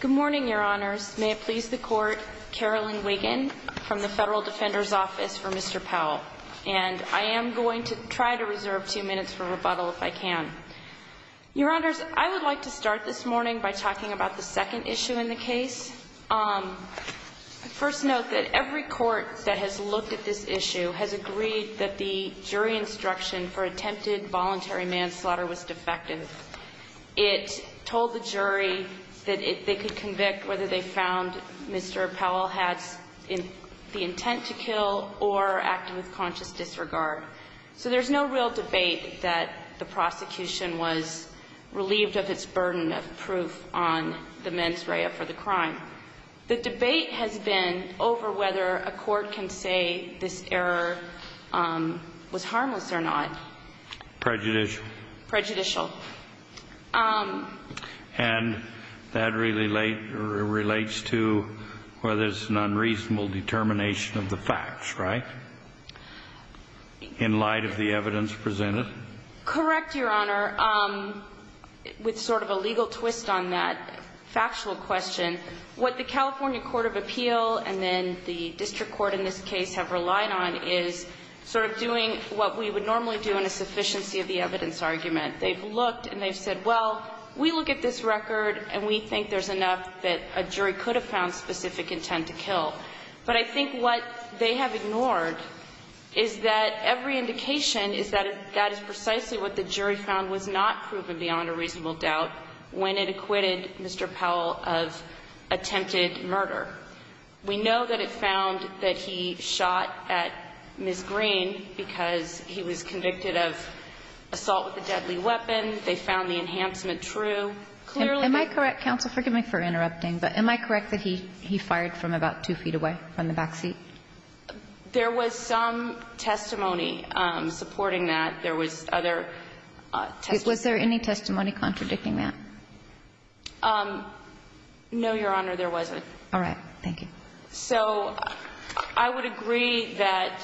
Good morning, Your Honors. May it please the Court, Carolyn Wiggin from the Federal Defender's Office for Mr. Powell. And I am going to try to reserve two minutes for rebuttal if I can. Your Honors, I would like to start this morning by talking about the second issue in the case. I first note that every court that has looked at this issue has agreed that the jury instruction for attempted voluntary manslaughter was defective. It told the jury that they could convict whether they found Mr. Powell had the intent to kill or acted with conscious disregard. So there's no real debate that the prosecution was relieved of its burden of proof on the mens rea for the crime. The debate has been over whether a court can say this error was harmless or not. Prejudicial. Prejudicial. And that relates to whether it's an unreasonable determination of the facts, right? In light of the evidence presented? Correct, Your Honor. With sort of a legal twist on that factual question, what the California Court of Appeal and then the district court in this case have relied on is sort of doing what we would normally do in a sufficiency of the evidence argument. They've looked and they've said, well, we look at this record and we think there's enough that a jury could have found specific intent to kill. But I think what they have ignored is that every indication is that that is precisely what the jury found was not proven beyond a reasonable doubt when it acquitted Mr. Powell of attempted murder. We know that it found that he shot at Ms. Green because he was convicted of assault with a deadly weapon. They found the enhancement true. Am I correct, counsel? Forgive me for interrupting, but am I correct that he fired from about two feet away from the backseat? There was some testimony supporting that. There was other testimony. Was there any testimony contradicting that? No, Your Honor, there wasn't. All right. Thank you. So I would agree that.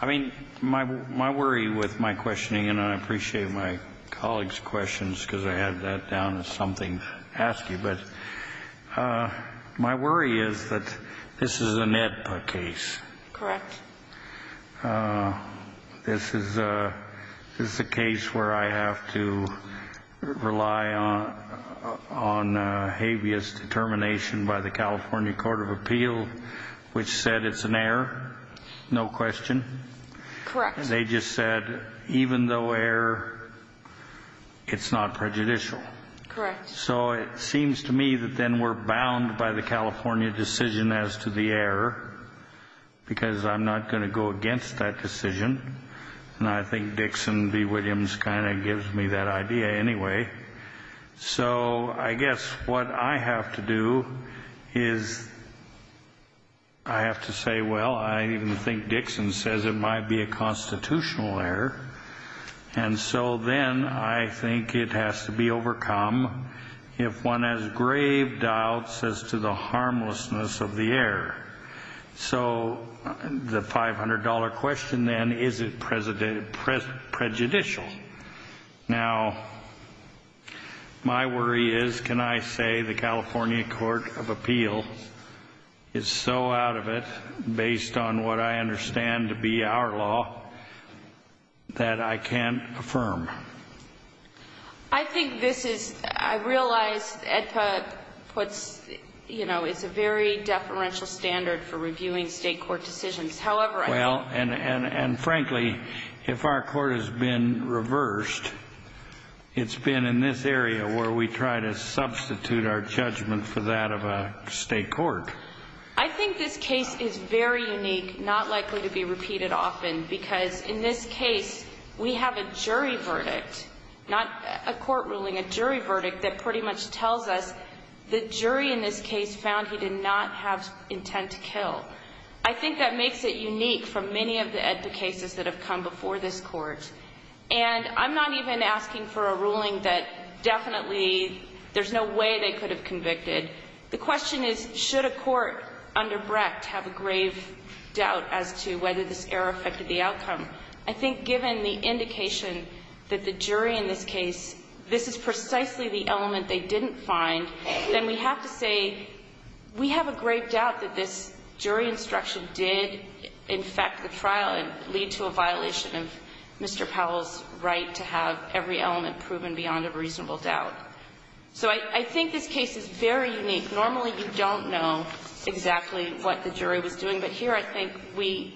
I mean, my worry with my questioning, and I appreciate my colleagues' questions because I had that down as something to ask you. But my worry is that this is an AEDPA case. Correct. This is a case where I have to rely on habeas determination by the California Court of Appeal, which said it's an error, no question. Correct. They just said even though error, it's not prejudicial. Correct. So it seems to me that then we're bound by the California decision as to the error because I'm not going to go against that decision. And I think Dixon v. Williams kind of gives me that idea anyway. So I guess what I have to do is I have to say, well, I even think Dixon says it might be a constitutional error. And so then I think it has to be overcome if one has grave doubts as to the harmlessness of the error. So the $500 question then, is it prejudicial? Now, my worry is, can I say the California Court of Appeal is so out of it, based on what I understand to be our law, that I can't affirm? I think this is, I realize AEDPA puts, you know, it's a very deferential standard for reviewing state court decisions. Well, and frankly, if our court has been reversed, it's been in this area where we try to substitute our judgment for that of a state court. I think this case is very unique, not likely to be repeated often, because in this case, we have a jury verdict, not a court ruling, a jury verdict that pretty much tells us the jury in this case found he did not have intent to kill. I think that makes it unique from many of the AEDPA cases that have come before this Court. And I'm not even asking for a ruling that definitely there's no way they could have convicted. The question is, should a court under Brecht have a grave doubt as to whether this error affected the outcome? I think given the indication that the jury in this case, this is precisely the element they didn't find, then we have to say we have a grave doubt that this jury instruction did infect the trial and lead to a violation of Mr. Powell's right to have every element proven beyond a reasonable doubt. So I think this case is very unique. Normally, you don't know exactly what the jury was doing, but here I think we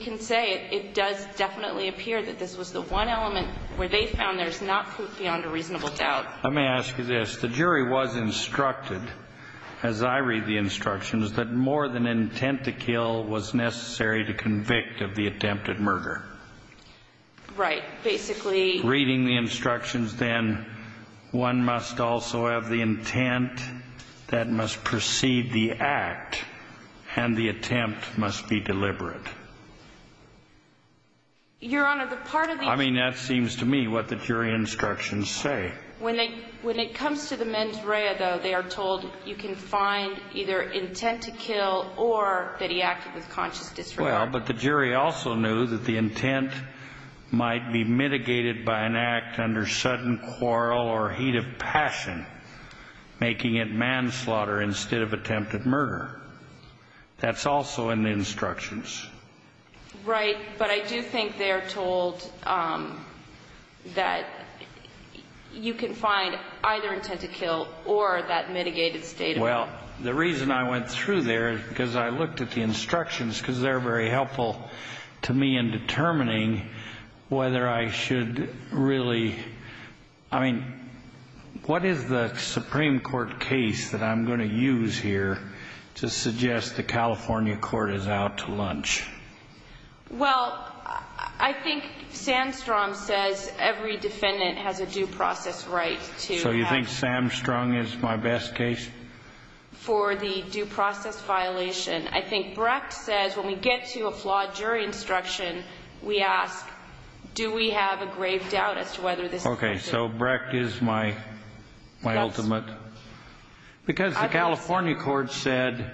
can say it does definitely appear that this was the one element where they found there's not proof beyond a reasonable doubt. Let me ask you this. The jury was instructed, as I read the instructions, that more than intent to kill was necessary to convict of the attempted murder. Right. Basically... Reading the instructions, then, one must also have the intent that must precede the act, and the attempt must be deliberate. Your Honor, the part of the... I mean, that seems to me what the jury instructions say. When it comes to the mens rea, though, they are told you can find either intent to kill or that he acted with conscious disregard. Well, but the jury also knew that the intent might be mitigated by an act under sudden quarrel or heat of passion, making it manslaughter instead of attempted murder. That's also in the instructions. Right, but I do think they are told that you can find either intent to kill or that mitigated state of mind. Well, the reason I went through there, because I looked at the instructions, because they're very helpful to me in determining whether I should really... I mean, what is the Supreme Court case that I'm going to use here to suggest the California court is out to lunch? Well, I think Sandstrom says every defendant has a due process right to have... So you think Sandstrom is my best case? For the due process violation. I think Brecht says when we get to a flawed jury instruction, we ask, do we have a grave doubt as to whether this is... Okay, so Brecht is my ultimate... Because the California court said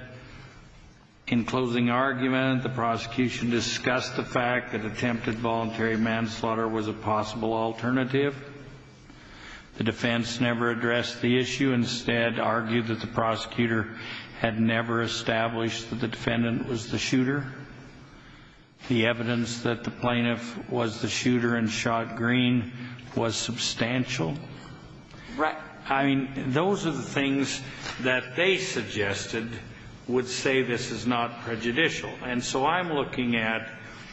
in closing argument, the prosecution discussed the fact that attempted voluntary manslaughter was a possible alternative. The defense never addressed the issue, instead argued that the prosecutor had never established that the defendant was the shooter. The evidence that the plaintiff was the shooter and shot green was substantial. Right. I mean, those are the things that they suggested would say this is not prejudicial. And so I'm looking at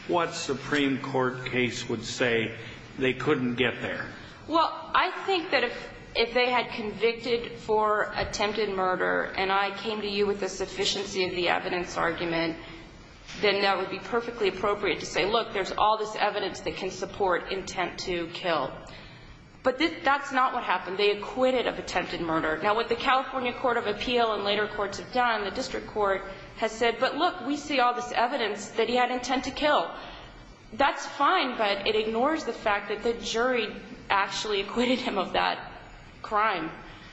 what Supreme Court case would say they couldn't get there. Well, I think that if they had convicted for attempted murder, and I came to you with the sufficiency of the evidence argument, then that would be perfectly appropriate to say, look, there's all this evidence that can support intent to kill. But that's not what happened. They acquitted of attempted murder. Now, what the California Court of Appeal and later courts have done, the district court has said, but look, we see all this evidence that he had intent to kill. That's fine, but it ignores the fact that the jury actually acquitted him of that crime.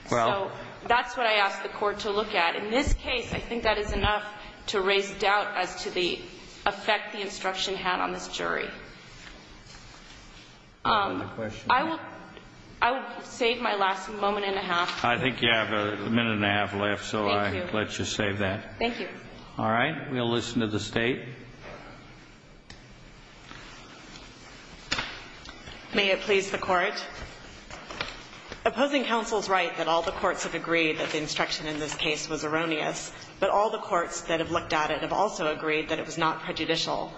So that's what I ask the court to look at. In this case, I think that is enough to raise doubt as to the effect the instruction had on this jury. I will save my last moment and a half. I think you have a minute and a half left, so I let you save that. Thank you. All right. We'll listen to the State. May it please the Court. Opposing counsel's right that all the courts have agreed that the instruction in this case was erroneous, but all the courts that have looked at it have also agreed that it was not prejudicial.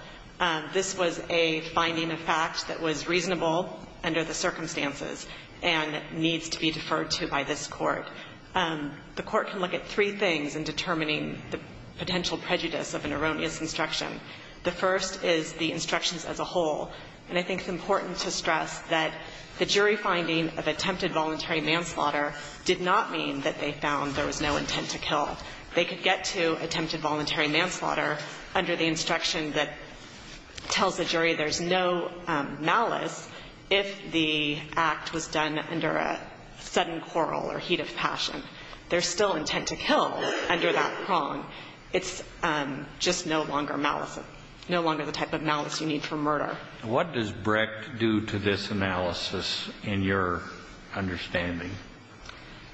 This was a finding of fact that was reasonable under the circumstances and needs to be deferred to by this Court. The Court can look at three things in determining the potential prejudice of an erroneous instruction. The first is the instructions as a whole, and I think it's important to stress that the jury finding of attempted voluntary manslaughter did not mean that they found there was no intent to kill. They could get to attempted voluntary manslaughter under the instruction that tells the jury there's no malice if the act was done under a sudden quarrel or heat of passion. There's still intent to kill under that prong. It's just no longer malice, no longer the type of malice you need for murder. What does Brecht do to this analysis in your understanding?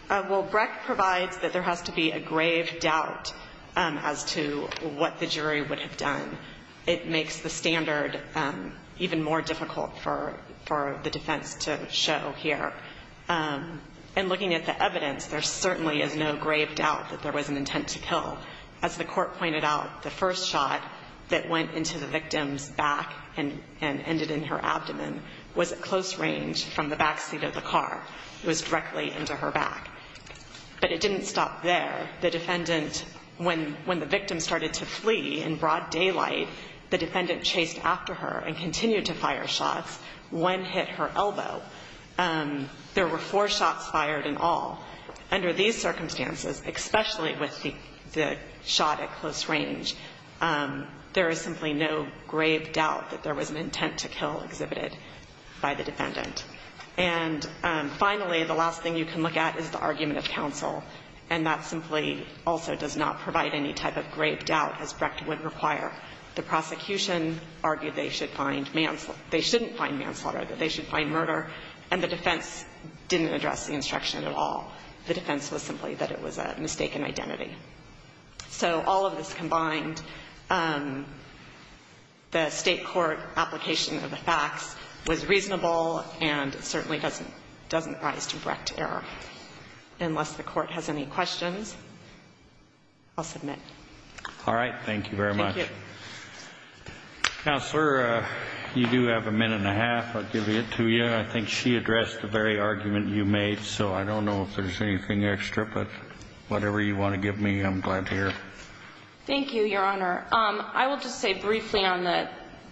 Well, Brecht provides that there has to be a grave doubt as to what the jury would have done. It makes the standard even more difficult for the defense to show here. And looking at the evidence, there certainly is no grave doubt that there was an intent to kill. As the Court pointed out, the first shot that went into the victim's back and ended in her abdomen was at close range from the backseat of the car. It was directly into her back. But it didn't stop there. The defendant, when the victim started to flee in broad daylight, the defendant chased after her and continued to fire shots. One hit her elbow. There were four shots fired in all. Under these circumstances, especially with the shot at close range, there is simply no grave doubt that there was an intent to kill exhibited by the defendant. And finally, the last thing you can look at is the argument of counsel, and that simply also does not provide any type of grave doubt, as Brecht would require. The prosecution argued they should find manslaughter. They shouldn't find manslaughter, that they should find murder. And the defense didn't address the instruction at all. The defense was simply that it was a mistaken identity. So all of this combined, the State court application of the facts was reasonable and certainly doesn't rise to Brecht error. Unless the Court has any questions, I'll submit. All right. Thank you very much. Thank you. Counselor, you do have a minute and a half. I'll give it to you. I think she addressed the very argument you made, so I don't know if there's anything extra, but whatever you want to give me, I'm glad to hear. Thank you, Your Honor. I will just say briefly on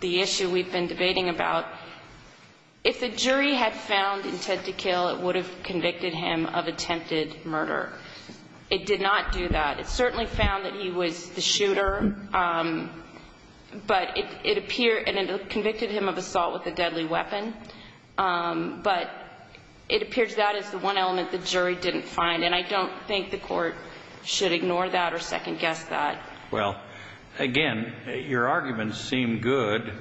the issue we've been debating about, if the jury had found intent to kill, it would have convicted him of attempted murder. It did not do that. It certainly found that he was the shooter, but it appeared and it convicted him of assault with a deadly weapon. But it appears that is the one element the jury didn't find. And I don't think the Court should ignore that or second-guess that. Well, again, your arguments seem good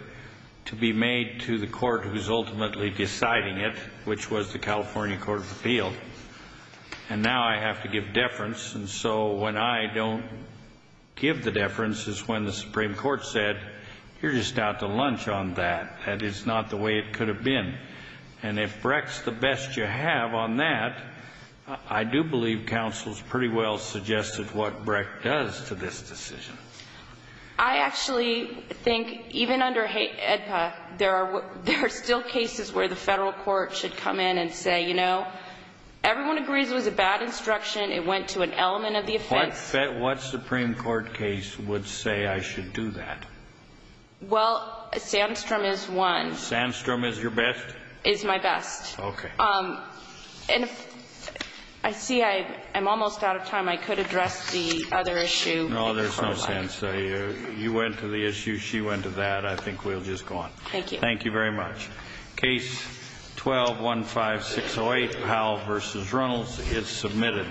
to be made to the Court who is ultimately deciding it, which was the California Court of Appeal. And now I have to give deference, and so when I don't give the deference is when the Supreme Court said, you're just out to lunch on that. That is not the way it could have been. And if Breck's the best you have on that, I do believe counsel's pretty well suggested what Breck does to this decision. I actually think, even under AEDPA, there are still cases where the federal court should come in and say, you know, everyone agrees it was a bad instruction. It went to an element of the offense. What Supreme Court case would say I should do that? Well, Sandstrom is one. Sandstrom is your best? Is my best. Okay. And I see I'm almost out of time. I could address the other issue. No, there's no sense. You went to the issue. She went to that. I think we'll just go on. Thank you. Thank you very much. Case 12-15608, Powell v. Reynolds is submitted.